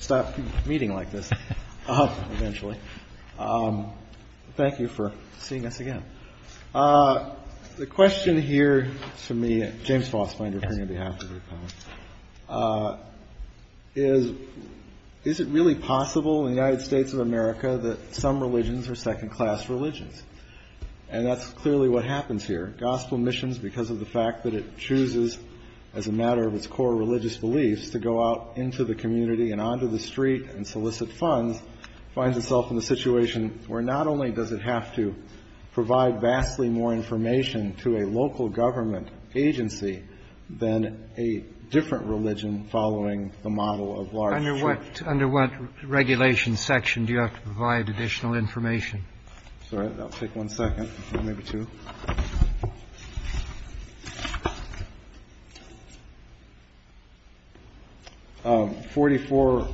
Is it really possible in the United States of America that some religions are second-class religions? And that's clearly what happens here. Gospel Missions, because of the fact that it chooses, as a matter of its core religious beliefs, to go out into the community and onto the street and solicit funds, finds itself in a situation where not only does it have to provide vastly more information to a local government agency than a different religion following the model of large churches under what regulation section do you have to provide additional information? Sorry, I'll take one second, maybe two. Forty four.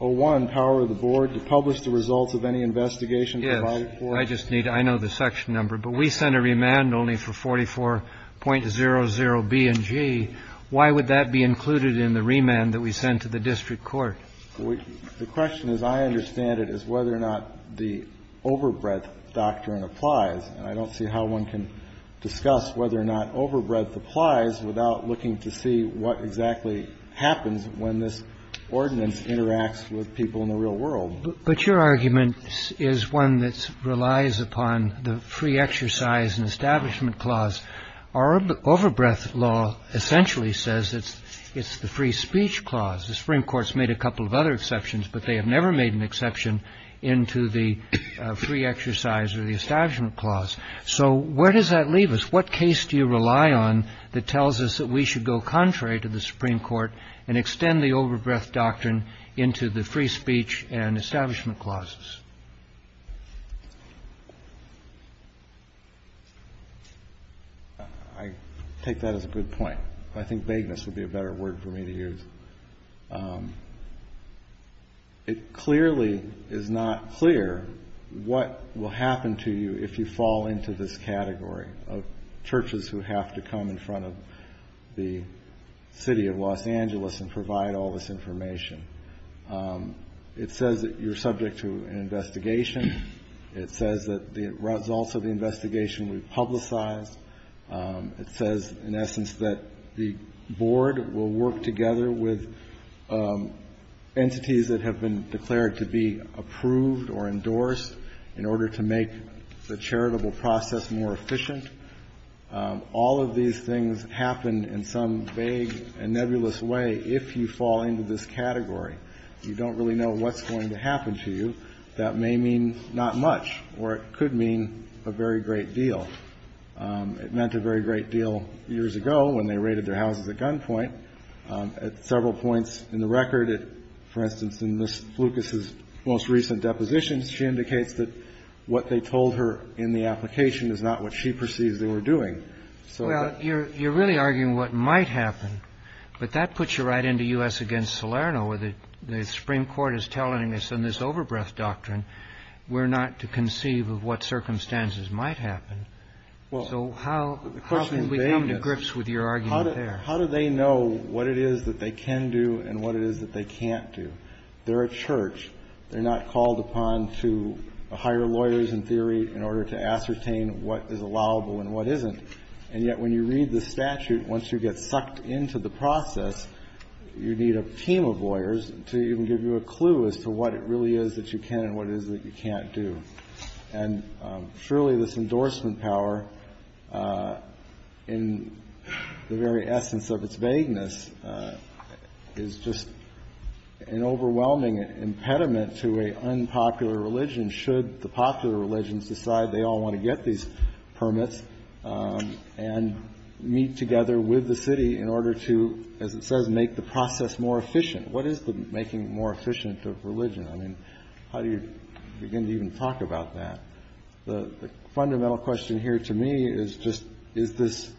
Oh, one power of the board to publish the results of any investigation. I just need I know the section number, but we sent a remand only for 44.00 B and G. Why would that be included in the remand that we sent to the district court? The question, as I understand it, is whether or not the overbreadth doctrine applies. I don't see how one can discuss whether or not overbreadth applies without looking to see what exactly happens when this ordinance interacts with people in the real world. But your argument is one that relies upon the free exercise and establishment clause. Our overbreadth law essentially says that it's the free speech clause. The Supreme Court's made a couple of other exceptions, but they have never made an exception into the free exercise or the establishment clause. So where does that leave us? What case do you rely on that tells us that we should go contrary to the Supreme Court and extend the overbreadth doctrine into the free speech and establishment clauses? I take that as a good point. I think vagueness would be a better word for me to use. It clearly is not clear what will happen to you if you fall into this category of churches who have to come in front of the city of Los Angeles and provide all this information. It says that you're subject to an investigation. It says that the results of the investigation will be publicized. It says, in essence, that the board will work together with entities that have been declared to be approved or endorsed in order to make the charitable process more efficient. All of these things happen in some vague and nebulous way if you fall into this category. You don't really know what's going to happen to you. But I think the answer to that question is, if we're going to go contrary to the free speech and establishment clause, that may mean not much or it could mean a very great deal. It meant a very great deal years ago when they raided their houses at gunpoint. At several points in the record, for instance, in Ms. Lucas's most recent depositions, she indicates that what they told her in the application is not what she perceives they were doing. Well, you're really arguing what might happen, but that puts you right into U.S. against Salerno, where the Supreme Court is telling us in this overbreath doctrine we're not to conceive of what circumstances might happen. So how can we come to grips with your argument there? How do they know what it is that they can do and what it is that they can't do? They're a church. They're not called upon to hire lawyers in theory in order to ascertain what is allowable and what isn't. And yet when you read the statute, once you get sucked into the process, you need a team of lawyers to even give you a clue as to what it really is that you can and what it is that you can't do. And surely this endorsement power, in the very essence of its vagueness, is just an overwhelming impediment to an unpopular religion should the popular religions decide they all want to get these permits and meet together with the city in order to, as it says, make the process more efficient. What is the making more efficient of religion? I mean, how do you begin to even talk about that? The fundamental question here to me is just is this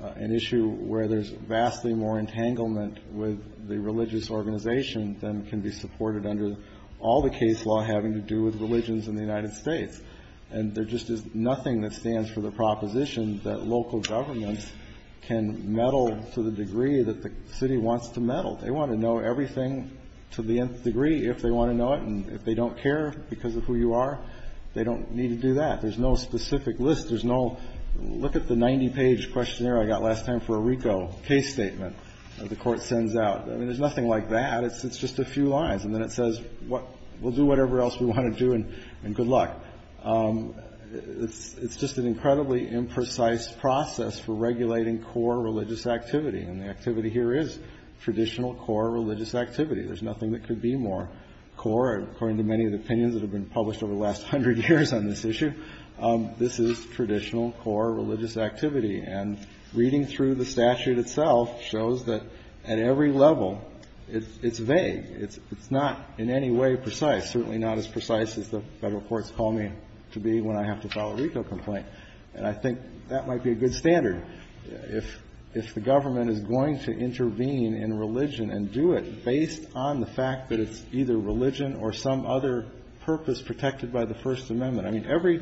an issue where there's vastly more entanglement with the religious organization than can be supported under all the case law having to do with religions in the United States. And there just is nothing that stands for the proposition that local governments can meddle to the degree that the city wants to meddle. They want to know everything to the nth degree if they want to know it. And if they don't care because of who you are, they don't need to do that. There's no specific list. There's no look at the 90-page questionnaire I got last time for a RICO case statement that the Court sends out. I mean, there's nothing like that. It's just a few lines. And then it says we'll do whatever else we want to do and good luck. It's just an incredibly imprecise process for regulating core religious activity. And the activity here is traditional core religious activity. There's nothing that could be more core, according to many of the opinions that have been published over the last hundred years on this issue. This is traditional core religious activity. And reading through the statute itself shows that at every level, it's vague. It's not in any way precise, certainly not as precise as the Federal courts call me to be when I have to file a RICO complaint. And I think that might be a good standard. If the government is going to intervene in religion and do it based on the fact that it's either religion or some other purpose protected by the First Amendment. I mean, every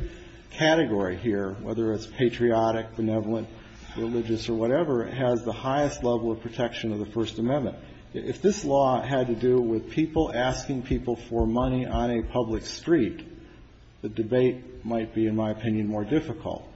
category here, whether it's patriotic, benevolent, religious, or whatever, has the highest level of protection of the First Amendment. If this law had to do with people asking people for money on a public street, the debate might be, in my opinion, more difficult.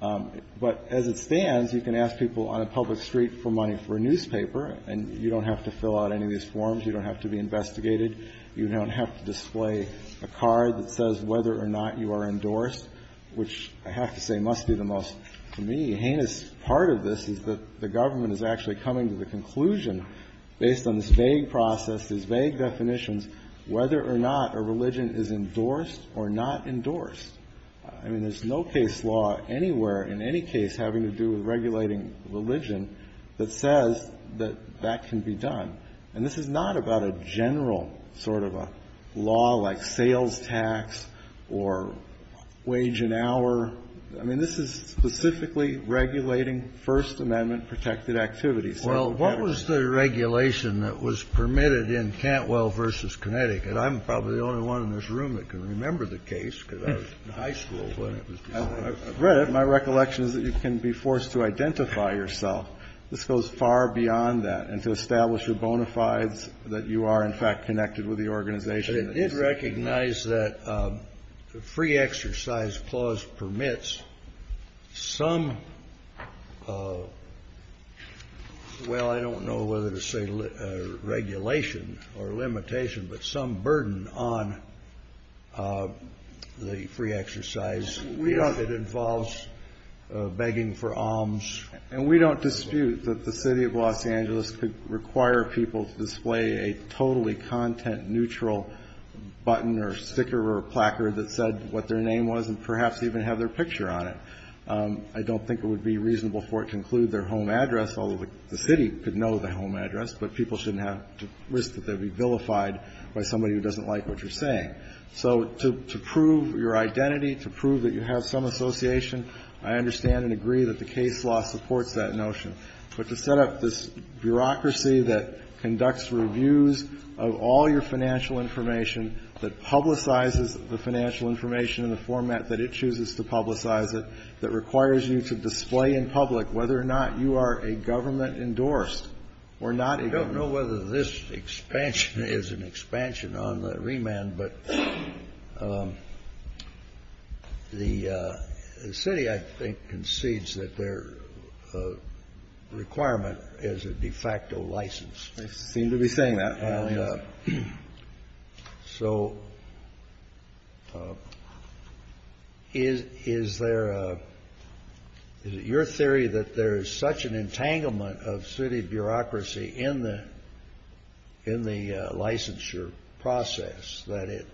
But as it stands, you can ask people on a public street for money for a newspaper, and you don't have to fill out any of these forms. You don't have to be investigated. You don't have to display a card that says whether or not you are endorsed, which I have to say must be the most, to me, heinous part of this is that the government is actually coming to the conclusion, based on this vague process, these vague definitions, whether or not a religion is endorsed or not endorsed. I mean, there's no case law anywhere in any case having to do with regulating religion that says that that can be done. And this is not about a general sort of a law like sales tax or wage an hour. I mean, this is specifically regulating First Amendment protected activities. Kennedy. Kennedy. Well, what was the regulation that was permitted in Cantwell v. Connecticut? I'm probably the only one in this room that can remember the case because I was in high school when it was decided. I've read it. My recollection is that you can be forced to identify yourself. This goes far beyond that. And to establish your bona fides, that you are, in fact, connected with the organization. It did recognize that the free exercise clause permits some, well, I don't know whether to say regulation or limitation, but some burden on the free exercise. It involves begging for alms. And we don't dispute that the City of Los Angeles could require people to display a totally content-neutral button or sticker or placard that said what their name was and perhaps even have their picture on it. I don't think it would be reasonable for it to include their home address, although the City could know the home address, but people shouldn't have to risk that they would be vilified by somebody who doesn't like what you're saying. So to prove your identity, to prove that you have some association, I understand and agree that the case law supports that notion. But to set up this bureaucracy that conducts reviews of all your financial information, that publicizes the financial information in the format that it chooses to publicize it, that requires you to display in public whether or not you are a government endorsed or not a government endorsed. This expansion is an expansion on the remand. But the City, I think, concedes that their requirement is a de facto license. They seem to be saying that. And so is there a – is it your theory that there is such an entanglement of City bureaucracy in the licensure process that it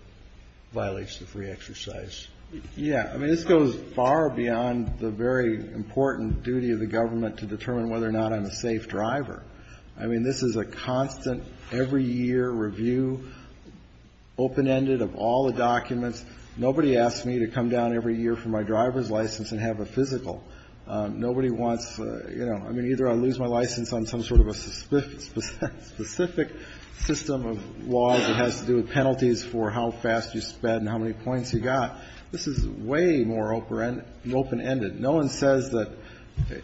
violates the free exercise? Yeah. I mean, this goes far beyond the very important duty of the government to determine whether or not I'm a safe driver. I mean, this is a constant, every year review, open-ended of all the documents. Nobody asks me to come down every year for my driver's license and have a physical. Nobody wants, you know, I mean, either I lose my license on some sort of a specific system of laws that has to do with penalties for how fast you spend and how many points you got. This is way more open-ended. No one says that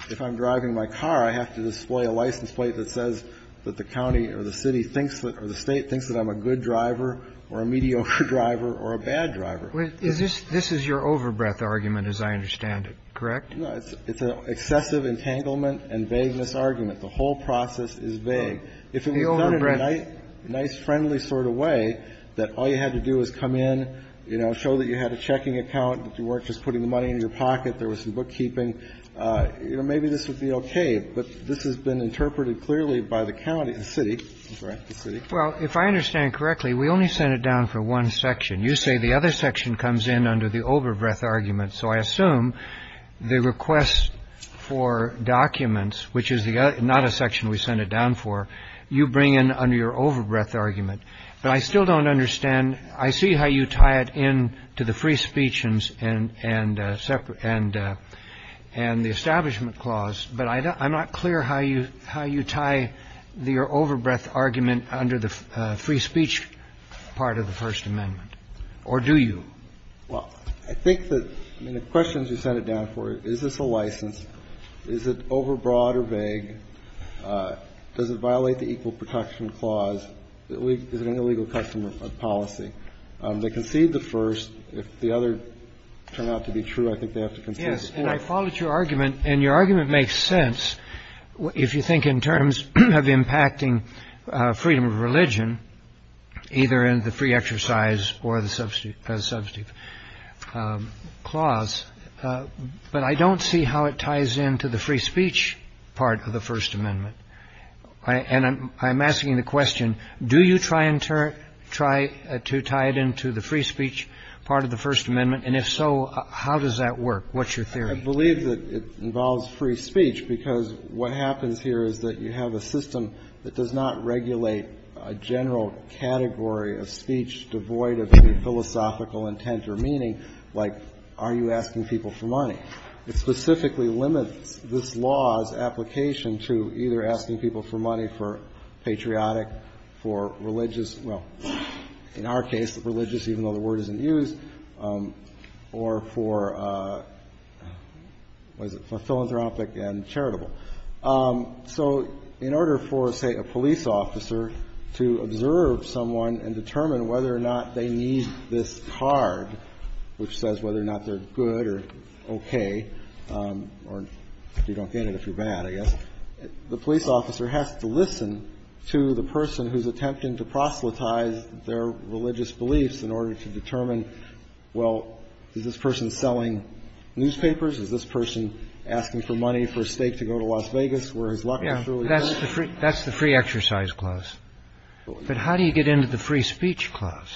if I'm driving my car, I have to display a license plate that says that the county or the City thinks that – or the State thinks that I'm a good driver or a mediocre driver or a bad driver. This is your overbreath argument, as I understand it, correct? No. It's an excessive entanglement and vagueness argument. The whole process is vague. If it was done in a nice, friendly sort of way, that all you had to do was come in, you know, show that you had a checking account, that you weren't just putting the money in your pocket, there was some bookkeeping, you know, maybe this would be okay. But this has been interpreted clearly by the county – the City. That's right, the City. Well, if I understand correctly, we only sent it down for one section. You say the other section comes in under the overbreath argument. So I assume the request for documents, which is not a section we sent it down for, you bring in under your overbreath argument. But I still don't understand. I see how you tie it in to the free speech and the Establishment Clause, but I'm not clear how you tie your overbreath argument under the free speech part of the First Amendment. Or do you? Well, I think that the questions we sent it down for, is this a license? Is it overbroad or vague? Does it violate the Equal Protection Clause? Is it an illegal custom of policy? They concede the first. If the other turn out to be true, I think they have to concede the fourth. Yes, and I followed your argument, and your argument makes sense if you think in terms of impacting freedom of religion, either in the free exercise or the substantive clause. But I don't see how it ties in to the free speech part of the First Amendment. And I'm asking the question, do you try and tie it in to the free speech part of the First Amendment? And if so, how does that work? What's your theory? I believe that it involves free speech, because what happens here is that you have a system that does not regulate a general category of speech devoid of any philosophical intent or meaning, like are you asking people for money. It specifically limits this law's application to either asking people for money for patriotic, for religious, well, in our case, religious, even though the word isn't used, or for, what is it, philanthropic and charitable. So in order for, say, a police officer to observe someone and determine whether or not they need this card, which says whether or not they're good or okay, or if you don't get it, if you're bad, I guess, the police officer has to listen to the person who's attempting to proselytize their religious beliefs in order to determine, well, is this person selling newspapers? Is this person asking for money for a stake to go to Las Vegas where his luck is truly good? That's the free exercise clause. But how do you get into the free speech clause?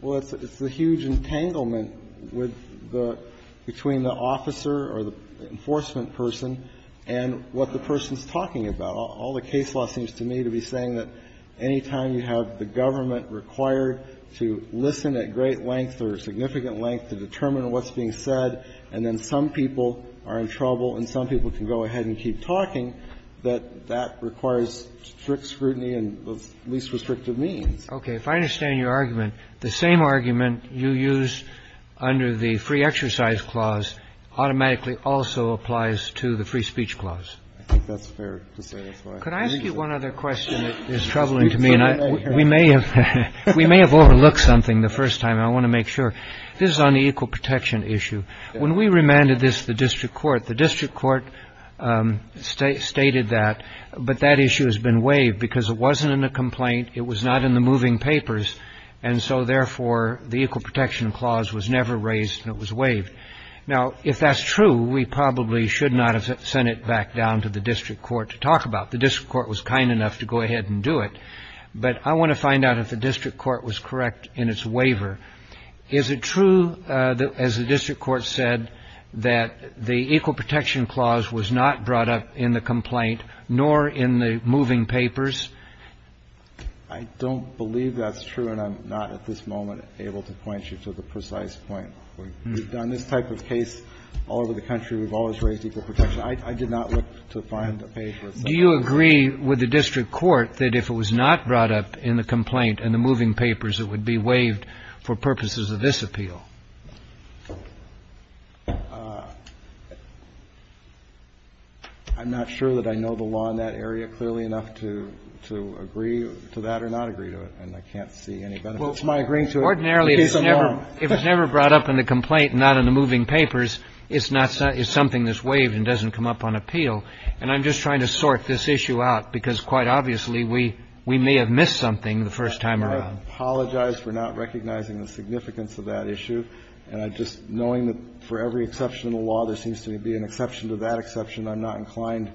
Well, it's the huge entanglement with the – between the officer or the enforcement person and what the person's talking about. All the case law seems to me to be saying that any time you have the government required to listen at great length or significant length to determine what's being said and then some people are in trouble and some people can go ahead and keep talking, that that requires strict scrutiny and the least restrictive means. Okay. If I understand your argument, the same argument you used under the free exercise clause automatically also applies to the free speech clause. I think that's fair to say. Could I ask you one other question that is troubling to me? We may have overlooked something the first time. I want to make sure. This is on the equal protection issue. When we remanded this to the district court, the district court stated that. But that issue has been waived because it wasn't in the complaint. It was not in the moving papers. And so, therefore, the equal protection clause was never raised and it was waived. Now, if that's true, we probably should not have sent it back down to the district court to talk about it. The district court was kind enough to go ahead and do it. But I want to find out if the district court was correct in its waiver. Is it true, as the district court said, that the equal protection clause was not brought up in the complaint nor in the moving papers? I don't believe that's true, and I'm not at this moment able to point you to the precise point. We've done this type of case all over the country. We've always raised equal protection. I did not look to find the papers. Do you agree with the district court that if it was not brought up in the complaint and the moving papers, it would be waived for purposes of this appeal? I'm not sure that I know the law in that area clearly enough to agree to that or not agree to it, and I can't see any benefit to my agreeing to it. Ordinarily, if it's never brought up in the complaint and not in the moving papers, it's something that's waived and doesn't come up on appeal. And I'm just trying to sort this issue out because, quite obviously, we may have missed something the first time around. I apologize for not recognizing the significance of that issue. And I'm just knowing that for every exception in the law, there seems to be an exception to that exception. I'm not inclined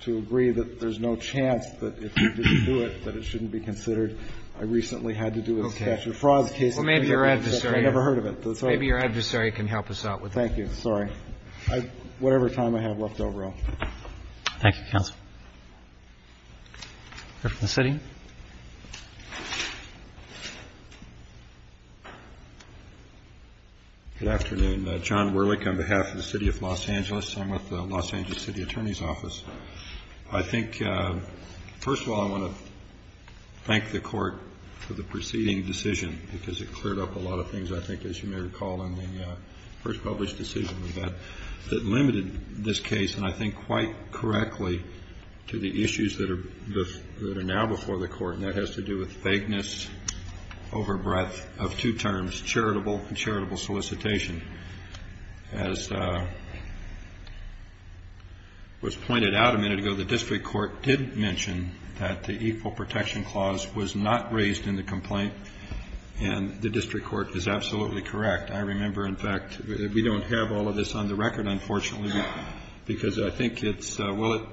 to agree that there's no chance that if you didn't do it, that it shouldn't be considered. I recently had to do a statute of frauds case. Well, maybe your adversary can help us out with that. Whatever time I have left over, though. Thank you, counsel. The City. Good afternoon. John Werlich on behalf of the City of Los Angeles. I'm with the Los Angeles City Attorney's Office. I think, first of all, I want to thank the Court for the preceding decision because it cleared up a lot of things, I think, as you may recall in the first published decision we had that limited this case, and I think quite correctly, to the issues that are now before the Court. And that has to do with vagueness over breadth of two terms, charitable and charitable solicitation. As was pointed out a minute ago, the District Court did mention that the Equal Protection Clause was not raised in the complaint. And the District Court is absolutely correct. I remember, in fact, we don't have all of this on the record, unfortunately, because I think it's well,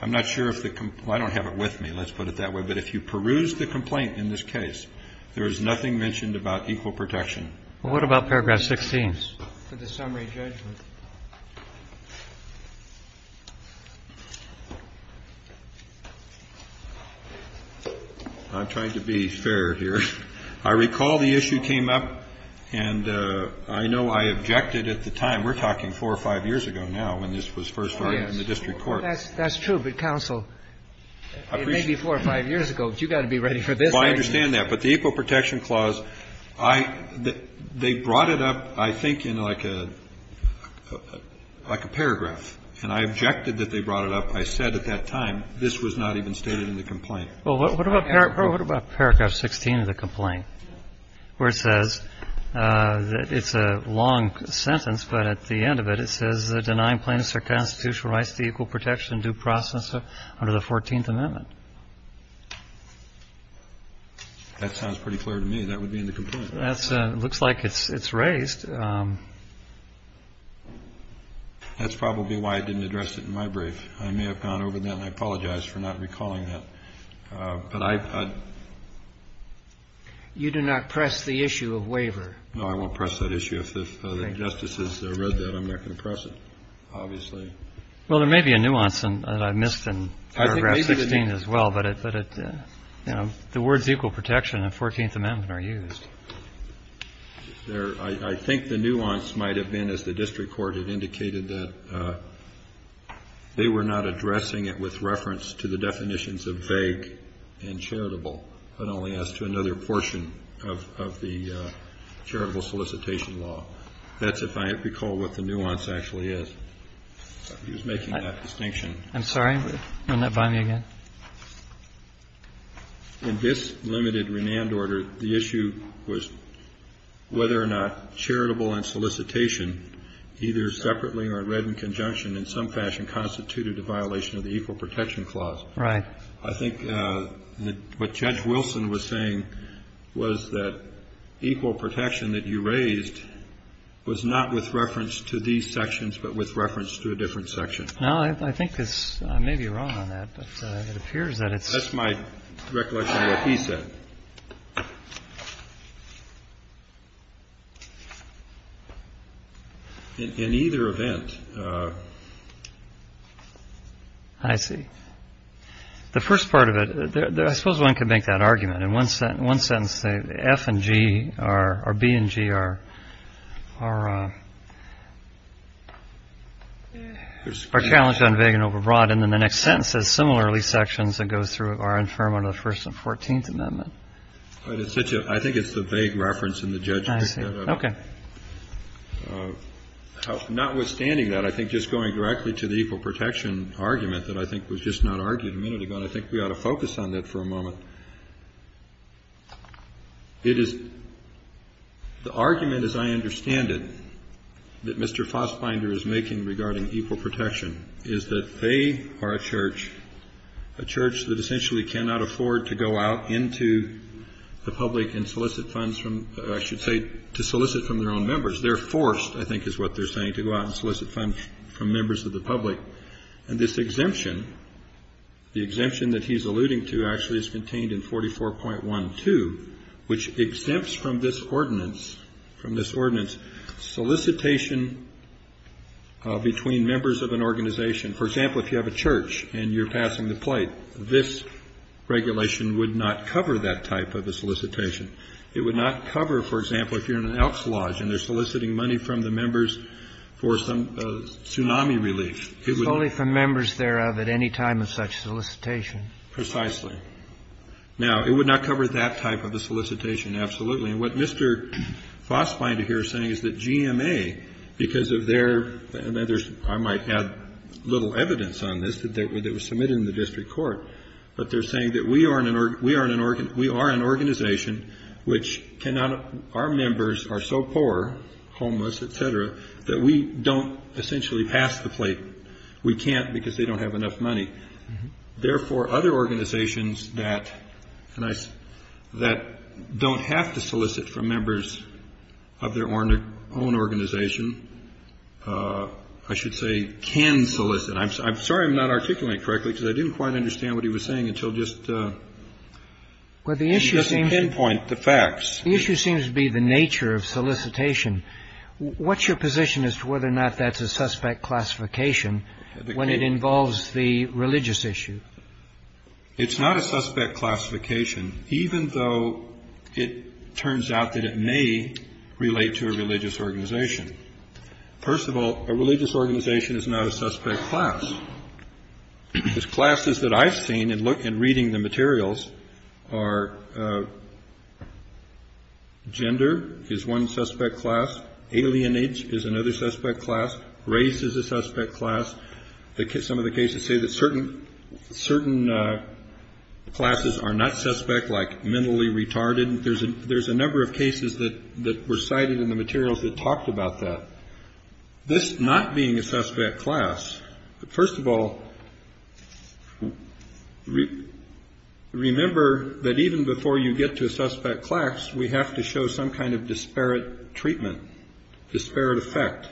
I'm not sure if the I don't have it with me. Let's put it that way. But if you peruse the complaint in this case, there is nothing mentioned about equal protection. What about paragraph 16 for the summary judgment? I'm trying to be fair here. I recall the issue came up, and I know I objected at the time. We're talking four or five years ago now when this was first started in the District Court. Oh, yes. That's true, but counsel, it may be four or five years ago, but you've got to be ready for this right now. Well, I understand that. But the Equal Protection Clause, I they brought it up, I think, in like a paragraph, and I objected that they brought it up. I said at that time this was not even stated in the complaint. Well, what about what about paragraph 16 of the complaint where it says that it's a long sentence, but at the end of it, it says the denying plaintiffs are constitutional rights to equal protection due process under the 14th Amendment. That sounds pretty clear to me. That would be in the complaint. That's looks like it's raised. That's probably why I didn't address it in my brief. I may have gone over that, and I apologize for not recalling that. But I. You do not press the issue of waiver. No, I won't press that issue. If the justices read that, I'm not going to press it, obviously. Well, there may be a nuance that I missed in paragraph 16 as well, but it, you know, the words equal protection and 14th Amendment are used. I think the nuance might have been, as the district court had indicated, that they were not addressing it with reference to the definitions of vague and charitable, but only as to another portion of the charitable solicitation law. That's if I recall what the nuance actually is. He was making that distinction. I'm sorry. You're not buying me again. In this limited remand order, the issue was whether or not charitable and solicitation, either separately or read in conjunction, in some fashion constituted a violation of the Equal Protection Clause. Right. I think what Judge Wilson was saying was that equal protection that you raised was not with reference to these sections, but with reference to a different section. Now, I think this may be wrong on that, but it appears that it's my recollection that he said. In either event. I see. The first part of it, I suppose one could make that argument. In one sentence, F and G or B and G are challenged on vague and overbroad. And then the next sentence says, similarly, sections that go through are infirm under the First and Fourteenth Amendment. I think it's the vague reference in the judgment. I see. Okay. Notwithstanding that, I think just going directly to the equal protection argument that I think was just not argued a minute ago, and I think we ought to focus on that for a moment. It is the argument, as I understand it, that Mr. Fassbinder is making regarding equal protection, is that they are a church, a church that essentially cannot afford to go out into the public and solicit funds from, I should say, to solicit from their own members. They're forced, I think is what they're saying, to go out and solicit funds from members of the public. And this exemption, the exemption that he's alluding to actually is contained in 44.12, which exempts from this ordinance solicitation between members of an organization. For example, if you have a church and you're passing the plate, this regulation would not cover that type of a solicitation. So if you're in an outlodge and they're soliciting money from the members for some tsunami relief, it would not. It's only from members thereof at any time of such solicitation. Precisely. Now, it would not cover that type of a solicitation, absolutely. And what Mr. Fassbinder here is saying is that GMA, because of their others, I might add little evidence on this that was submitted in the district court, but they're saying that we are an organization which cannot, our members are so poor, homeless, et cetera, that we don't essentially pass the plate. We can't because they don't have enough money. Therefore, other organizations that don't have to solicit from members of their own organization, I should say, can solicit. I'm sorry I'm not articulating correctly because I didn't quite understand what he was saying until just to pinpoint the facts. The issue seems to be the nature of solicitation. What's your position as to whether or not that's a suspect classification when it involves the religious issue? It's not a suspect classification, even though it turns out that it may relate to a religious organization. First of all, a religious organization is not a suspect class. The classes that I've seen in reading the materials are gender is one suspect class. Alienage is another suspect class. Race is a suspect class. Some of the cases say that certain classes are not suspect, like mentally retarded. There's a number of cases that were cited in the materials that talked about that. This not being a suspect class, first of all, remember that even before you get to a suspect class, we have to show some kind of disparate treatment, disparate effect.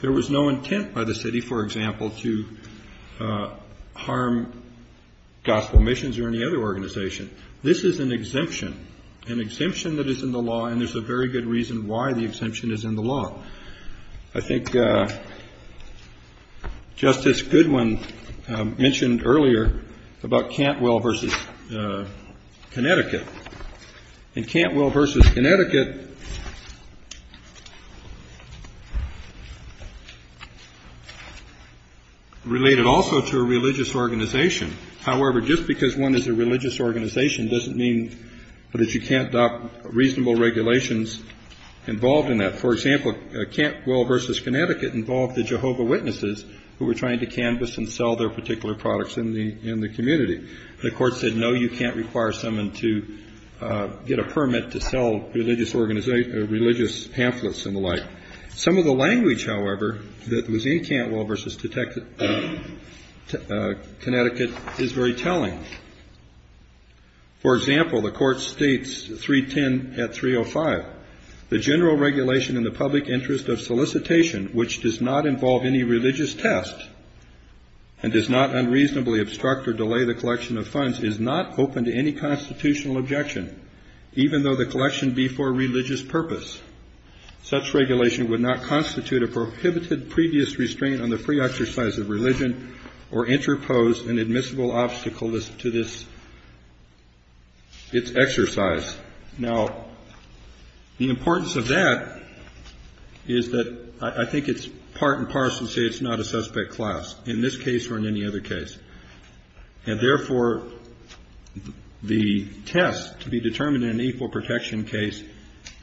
There was no intent by the city, for example, to harm gospel missions or any other organization. This is an exemption, an exemption that is in the law, and there's a very good reason why the exemption is in the law. I think Justice Goodwin mentioned earlier about Cantwell v. Connecticut. And Cantwell v. Connecticut related also to a religious organization. However, just because one is a religious organization doesn't mean that you can't adopt reasonable regulations involved in that. For example, Cantwell v. Connecticut involved the Jehovah Witnesses who were trying to canvass and sell their particular products in the community. The court said, no, you can't require someone to get a permit to sell religious pamphlets and the like. Some of the language, however, that was in Cantwell v. Connecticut is very telling. For example, the court states 310 at 305, the general regulation in the public interest of solicitation which does not involve any religious test and does not unreasonably obstruct or delay the collection of funds is not open to any constitutional objection, even though the collection be for religious purpose. Such regulation would not constitute a prohibited previous restraint on the free exercise of religion or interpose an admissible obstacle to this exercise. Now, the importance of that is that I think it's part and parcel to say it's not a suspect class in this case or in any other case. And therefore, the test to be determined in an equal protection case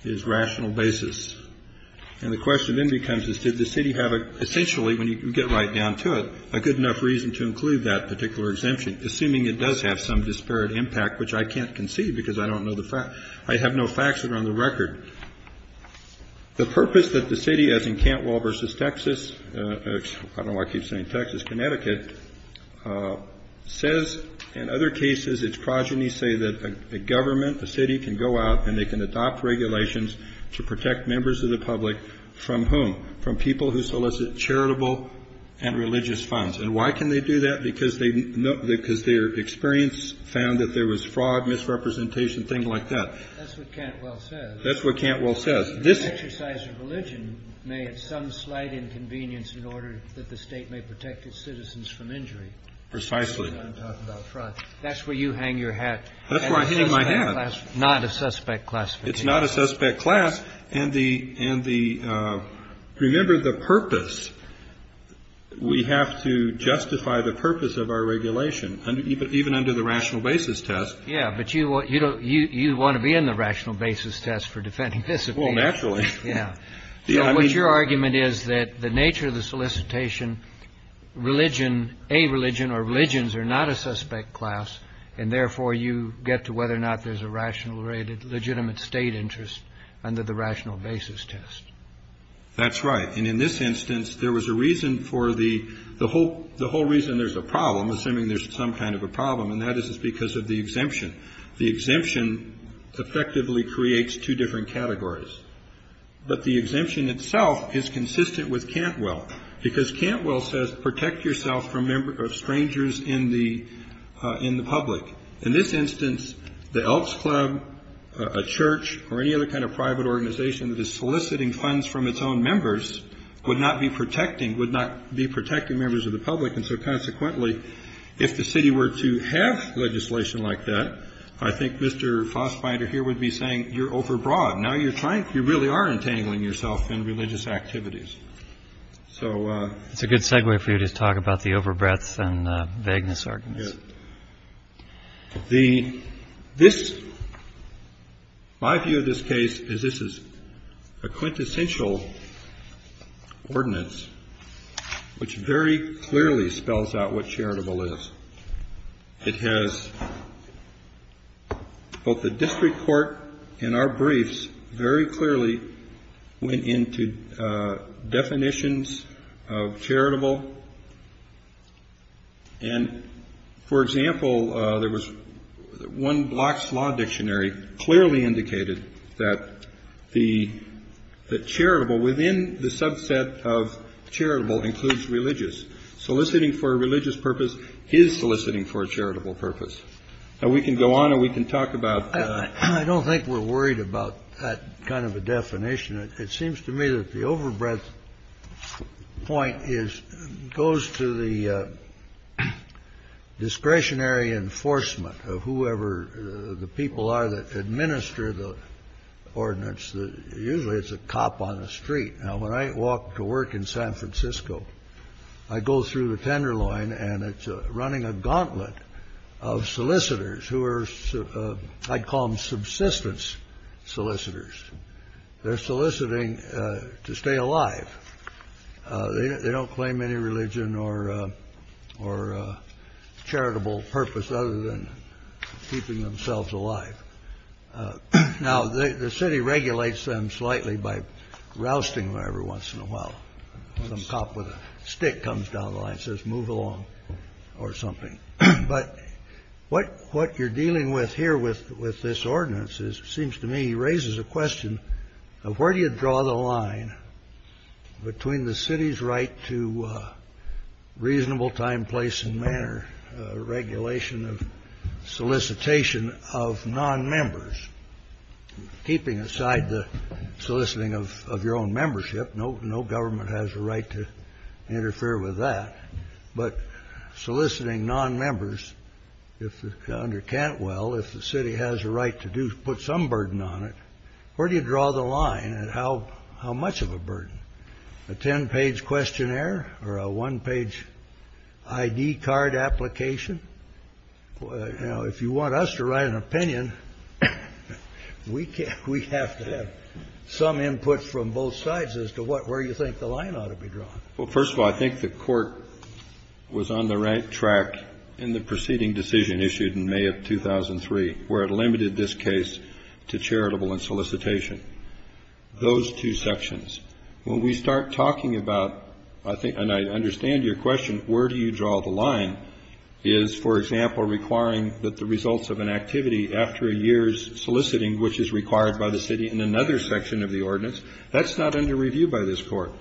is rational basis. And the question then becomes is did the city have essentially, when you get right down to it, a good enough reason to include that particular exemption, assuming it does have some disparate impact, which I can't concede because I don't know the facts. I have no facts that are on the record. The purpose that the city, as in Cantwell v. Texas, I don't know why I keep saying Texas, Connecticut, says in other cases its progeny say that a government, a city can go out and they can adopt regulations to protect members of the public from whom? From people who solicit charitable and religious funds. And why can they do that? Because their experience found that there was fraud, misrepresentation, things like that. That's what Cantwell says. That's what Cantwell says. This exercise of religion may have some slight inconvenience in order that the State may protect its citizens from injury. Precisely. That's what I'm talking about. Fraud. That's where you hang your hat. That's where I'm hanging my hat. Not a suspect classification. It's not a suspect class. And the – remember the purpose. We have to justify the purpose of our regulation, even under the rational basis test. Yeah. But you want to be in the rational basis test for defending this appeal. Well, naturally. Yeah. What's your argument is that the nature of the solicitation, religion, a religion or religions are not a suspect class, and therefore you get to whether or not there's a rational rated legitimate State interest under the rational basis test. That's right. And in this instance, there was a reason for the whole reason there's a problem, assuming there's some kind of a problem, and that is because of the exemption. The exemption effectively creates two different categories. But the exemption itself is consistent with Cantwell, because Cantwell says protect yourself from strangers in the public. In this instance, the Elks Club, a church, or any other kind of private organization that is soliciting funds from its own members would not be protecting – would not be protecting members of the public. And so consequently, if the city were to have legislation like that, I think Mr. Fassbinder here would be saying you're overbroad. Now you're trying. You really are entangling yourself in religious activities. So it's a good segue for you to talk about the overbreadth and vagueness arguments. The – this – my view of this case is this is a quintessential ordinance which very clearly spells out what charitable is. It has – both the district court and our briefs very clearly went into definitions of charitable. And, for example, there was – one block's law dictionary clearly indicated that the charitable within the subset of charitable includes religious. Soliciting for a religious purpose is soliciting for a charitable purpose. Now we can go on and we can talk about – I don't think we're worried about that kind of a definition. It seems to me that the overbreadth point is – goes to the discretionary enforcement of whoever the people are that administer the ordinance. Usually it's a cop on the street. Now when I walk to work in San Francisco, I go through the Tenderloin and it's running a gauntlet of solicitors who are – I'd call them subsistence solicitors. They're soliciting to stay alive. They don't claim any religion or charitable purpose other than keeping themselves alive. Now the city regulates them slightly by rousting them every once in a while. When a cop with a stick comes down the line and says move along or something. But what you're dealing with here with this ordinance seems to me raises a question of where do you draw the line between the city's right to reasonable time, place and manner regulation of solicitation of non-members. Keeping aside the soliciting of your own membership, no government has a right to interfere with that. But soliciting non-members under Cantwell, if the city has a right to put some burden on it, where do you draw the line and how much of a burden? A ten-page questionnaire or a one-page ID card application? Now if you want us to write an opinion, we have to have some input from both sides as to where you think the line ought to be drawn. Well, first of all, I think the court was on the right track in the preceding decision issued in May of 2003 where it limited this case to charitable and solicitation. Those two sections. When we start talking about, and I understand your question, where do you draw the line is, for example, requiring that the results of an activity after a year's soliciting which is required by the city in another section of the ordinance, that's not under review by this court.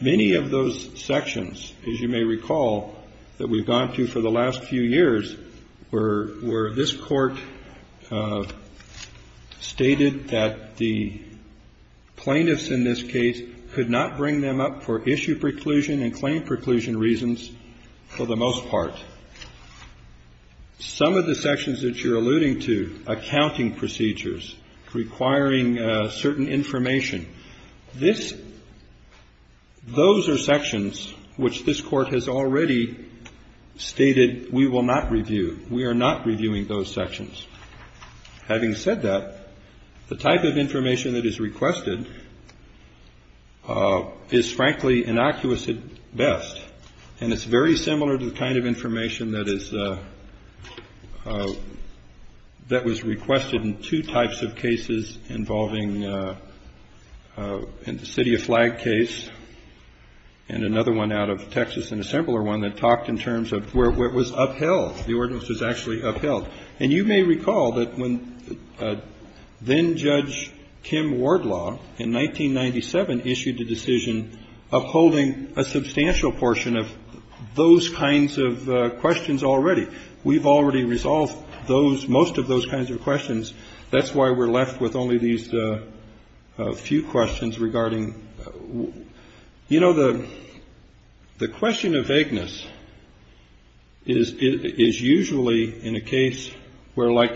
Many of those sections, as you may recall, that we've gone to for the last few years were this court stated that the plaintiffs in this case could not bring them up for issue preclusion and claim preclusion reasons for the most part. Some of the sections that you're alluding to, accounting procedures, requiring certain information, those are sections which this court has already stated we will not review. We are not reviewing those sections. Having said that, the type of information that is requested is frankly innocuous at best, and it's very similar to the kind of information that is, that was requested in two types of cases involving the City of Flag case and another one out of Texas and a simpler one that talked in terms of where it was upheld. The ordinance was actually upheld. And you may recall that when then-Judge Kim Wardlaw in 1997 issued a decision upholding a substantial portion of those kinds of questions already, we've already resolved those, most of those kinds of questions. That's why we're left with only these few questions regarding, you know, the question of vagueness is usually in a case where, like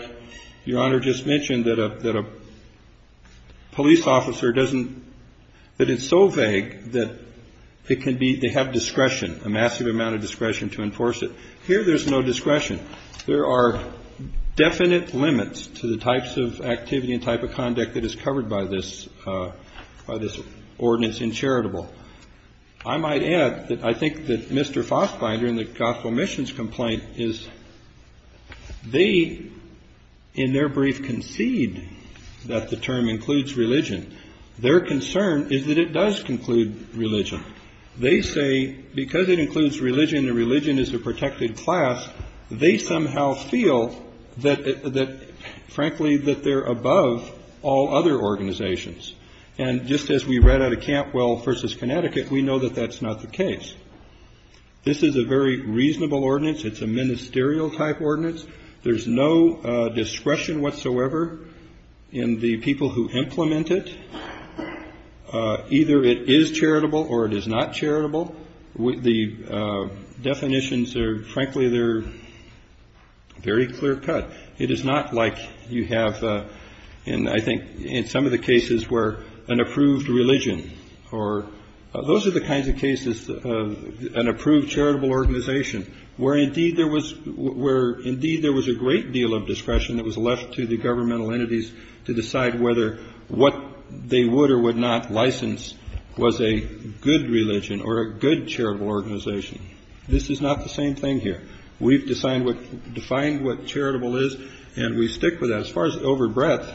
Your Honor just mentioned, that a police officer doesn't, that it's so vague that it can be, they have discretion, a massive amount of discretion to enforce it. Here there's no discretion. There are definite limits to the types of activity and type of conduct that is covered by this, by this ordinance in charitable. I might add that I think that Mr. Fassbinder in the Gospel Missions complaint is they, in their brief, concede that the term includes religion. Their concern is that it does conclude religion. They say because it includes religion and religion is a protected class, they somehow feel that, frankly, that they're above all other organizations. And just as we read out of Campwell v. Connecticut, we know that that's not the case. This is a very reasonable ordinance. It's a ministerial type ordinance. There's no discretion whatsoever in the people who implement it. Either it is charitable or it is not charitable. The definitions are, frankly, they're very clear cut. It is not like you have, and I think in some of the cases where an approved religion or those are the kinds of cases, an approved charitable organization where indeed there was where indeed there was a great deal of discretion that was left to the governmental entities to decide whether what they would or would not license was a good religion or a good charitable organization. This is not the same thing here. We've decided what defined what charitable is. And we stick with as far as over breadth.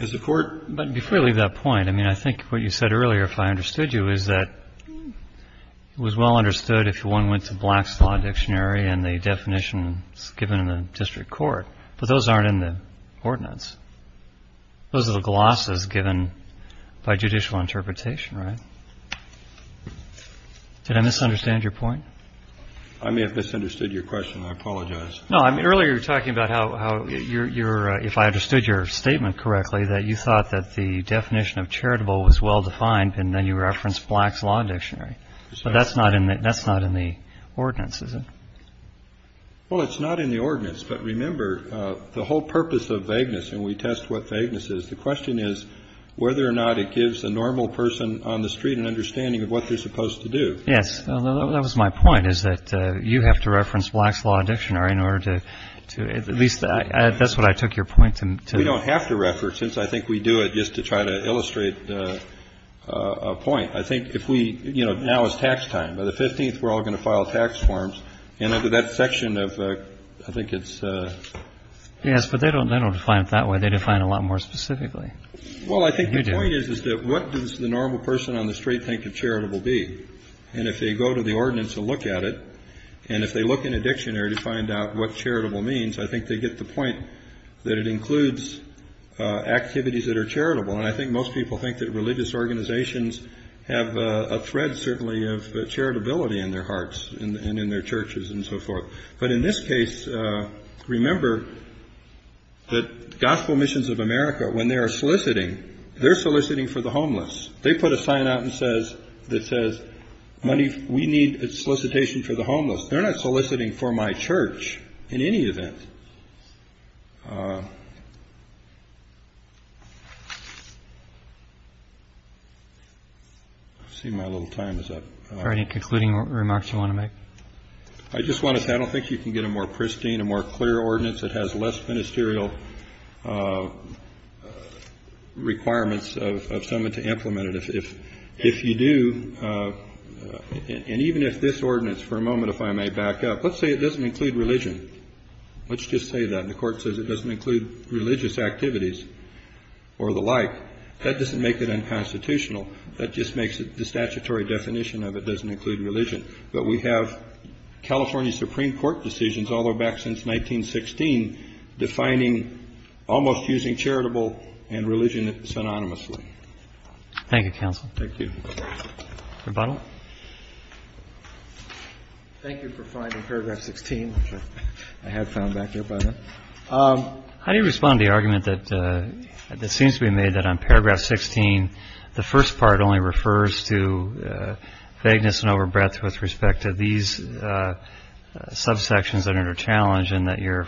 As the court. But before you leave that point, I mean, I think what you said earlier, if I understood you, is that it was well understood if one went to Black's Law Dictionary and the definitions given in the district court. But those aren't in the ordinance. Those are the glosses given by judicial interpretation, right? Did I misunderstand your point? I may have misunderstood your question. I apologize. No, I mean, earlier you were talking about how you're if I understood your statement correctly, that you thought that the definition of charitable was well defined. And then you referenced Black's Law Dictionary. So that's not in that. That's not in the ordinance, is it? Well, it's not in the ordinance. But remember, the whole purpose of vagueness and we test what vagueness is. The question is whether or not it gives a normal person on the street an understanding of what they're supposed to do. Yes. That was my point, is that you have to reference Black's Law Dictionary in order to at least that's what I took your point to. We don't have to reference. I think we do it just to try to illustrate a point. I think if we you know, now is tax time. By the 15th, we're all going to file tax forms. And under that section of I think it's. Yes. But they don't they don't define it that way. They define a lot more specifically. Well, I think the point is, is that what does the normal person on the street think of charitable be? And if they go to the ordinance and look at it, and if they look in a dictionary to find out what charitable means, I think they get the point that it includes activities that are charitable. And I think most people think that religious organizations have a thread, certainly of charitability in their hearts and in their churches and so forth. But in this case, remember that Gospel Missions of America, when they are soliciting, they're soliciting for the homeless. They put a sign out and says this says money. We need a solicitation for the homeless. They're not soliciting for my church in any event. I see my little time is up. Any concluding remarks you want to make? I just want to say I don't think you can get a more pristine, a more clear ordinance that has less ministerial requirements of someone to implement it. If if if you do. And even if this ordinance for a moment, if I may back up, let's say it doesn't include religion. Let's just say that the Court says it doesn't include religious activities or the like. That doesn't make it unconstitutional. That just makes it the statutory definition of it doesn't include religion. But we have California Supreme Court decisions all the way back since 1916 defining almost using charitable and religion synonymously. Thank you, counsel. Thank you. Rebuttal. Thank you for finding Paragraph 16. I have found back up. How do you respond to the argument that this seems to be made that on Paragraph 16, the first part only refers to vagueness and over breadth with respect to these subsections that are challenging that your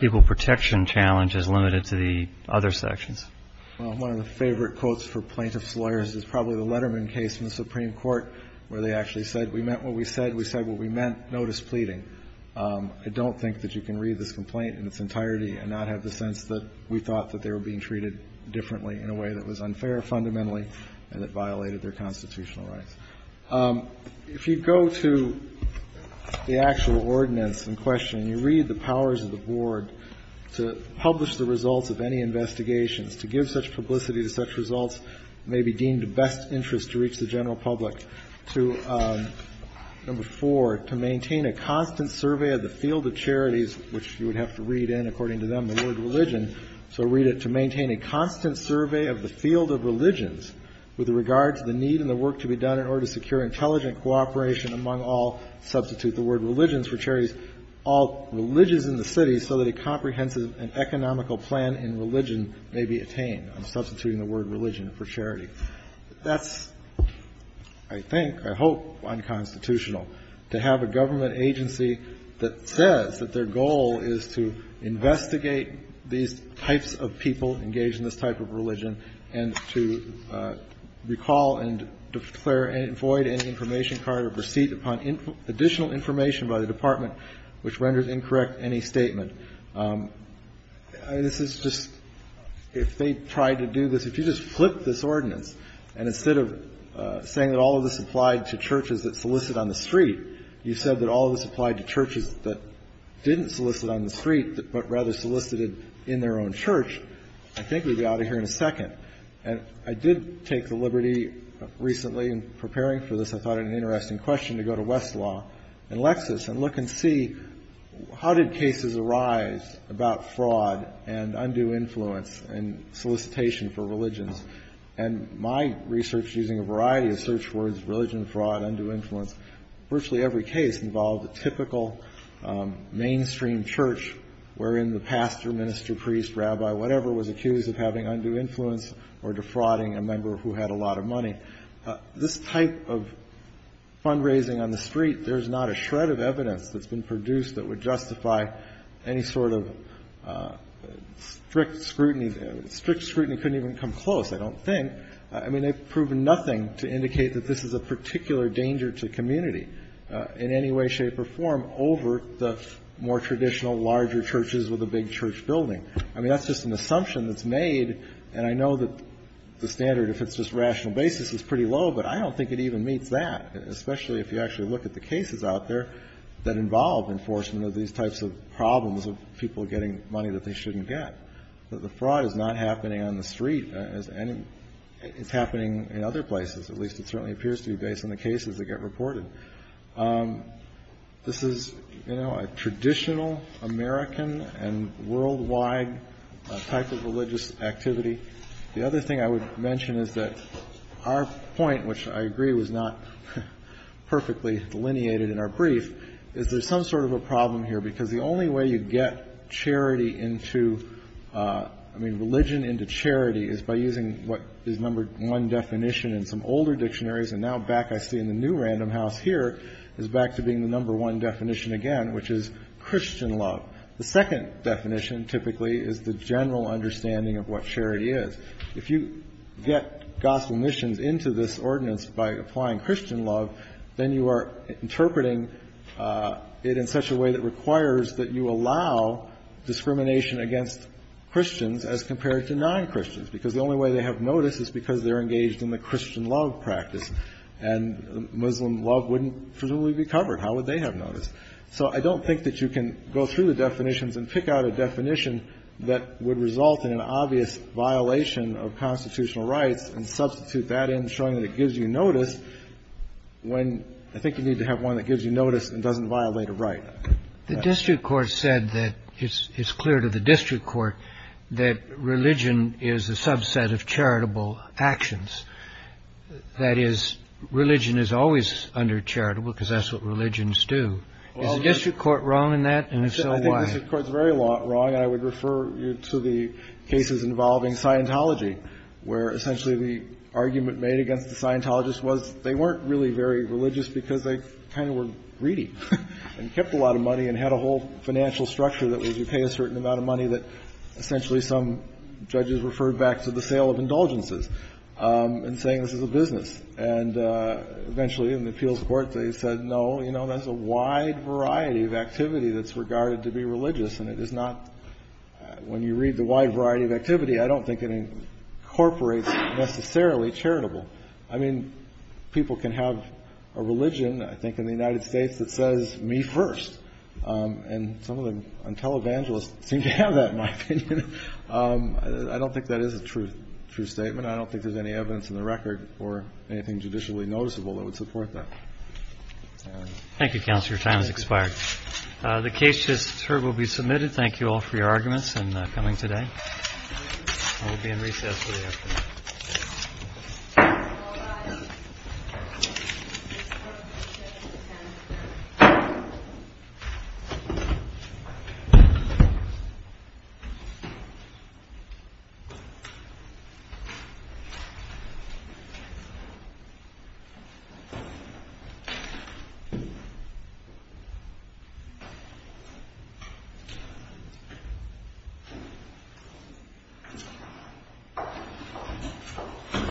people protection challenge is limited to the other sections. Well, one of the favorite quotes for plaintiff's lawyers is probably the Letterman case in the Supreme Court where they actually said, we meant what we said. We said what we meant. Notice pleading. I don't think that you can read this complaint in its entirety and not have the sense that we thought that they were being treated differently in a way that was unfair fundamentally and that violated their constitutional rights. If you go to the actual ordinance in question and you read the powers of the board to publish the results of any investigations, to give such publicity to such results may be deemed of best interest to reach the general public. To number four, to maintain a constant survey of the field of charities, which you would have to read in according to them the word religion. So read it. To maintain a constant survey of the field of religions with regard to the need and the work to be done in order to secure intelligent cooperation among all. Substitute the word religions for charities, all religions in the city so that a comprehensive and economical plan in religion may be attained. I'm substituting the word religion for charity. That's, I think, I hope, unconstitutional. To have a government agency that says that their goal is to investigate these types of people engaged in this type of religion and to recall and declare and void any information card or receipt upon additional information by the department which renders incorrect any statement. This is just, if they tried to do this, if you just flipped this ordinance and instead of saying that all of this applied to churches that solicit on the street, you said that all of this applied to churches that didn't solicit on the street but rather solicited in their own church, I think we'd be out of here in a second. And I did take the liberty recently in preparing for this, I thought it an interesting question, to go to Westlaw and Lexis and look and see how did cases arise about fraud and undue influence and solicitation for religions? And my research using a variety of search words, religion fraud, undue influence, virtually every case involved a typical mainstream church wherein the pastor, minister, priest, rabbi, whatever was accused of having undue influence or defrauding a member who had a lot of money. This type of fundraising on the street, there's not a shred of evidence that's been produced that would justify any sort of strict scrutiny. Strict scrutiny couldn't even come close, I don't think. I mean, they've proven nothing to indicate that this is a particular danger to community in any way, shape, or form over the more traditional larger churches with a big church building. I mean, that's just an assumption that's made. And I know that the standard, if it's just rational basis, is pretty low, but I don't think it even meets that, especially if you actually look at the cases out there that involve enforcement of these types of problems of people getting money that they shouldn't get. The fraud is not happening on the street. It's happening in other places. At least it certainly appears to be based on the cases that get reported. This is a traditional American and worldwide type of religious activity. The other thing I would mention is that our point, which I agree was not perfectly delineated in our brief, is there's some sort of a problem here, because the only way you get charity into, I mean, religion into charity is by using what is number one definition in some older dictionaries. And now back, I see in the new Random House here, is back to being the number one definition again, which is Christian love. The second definition typically is the general understanding of what charity is. If you get Gospel missions into this ordinance by applying Christian love, then you are interpreting it in such a way that requires that you allow discrimination against Christians as compared to non-Christians, because the only way they have notice is because they're engaged in the Christian love practice, and Muslim love wouldn't presumably be covered. How would they have notice? So I don't think that you can go through the definitions and pick out a definition that would result in an obvious violation of constitutional rights and substitute that in, showing that it gives you notice, when I think you need to have one that gives you notice and doesn't violate a right. The district court said that it's clear to the district court that religion is a subset of charitable actions. That is, religion is always under charitable, because that's what religions do. Is the district court wrong in that? And if so, why? I think the district court is very wrong, and I would refer you to the cases involving Scientology, where essentially the argument made against the Scientologists was they weren't really very religious because they kind of were greedy and kept a lot of money and had a whole financial structure that was you pay a certain amount of money that essentially some judges referred back to the sale of indulgences in saying this is a business. And eventually in the appeals court they said, no, you know, that's a wide variety of activity that's regarded to be religious, and it is not – when you read the wide variety of activity, I don't think it incorporates necessarily charitable. I mean, people can have a religion, I think, in the United States that says me first, and some of the televangelists seem to have that in my opinion. I don't think that is a true statement. I don't think there's any evidence in the record or anything judicially noticeable that would support that. Thank you, Counselor. Your time has expired. The case just heard will be submitted. Thank you all for your arguments and coming today. I will be in recess for the afternoon. Thank you.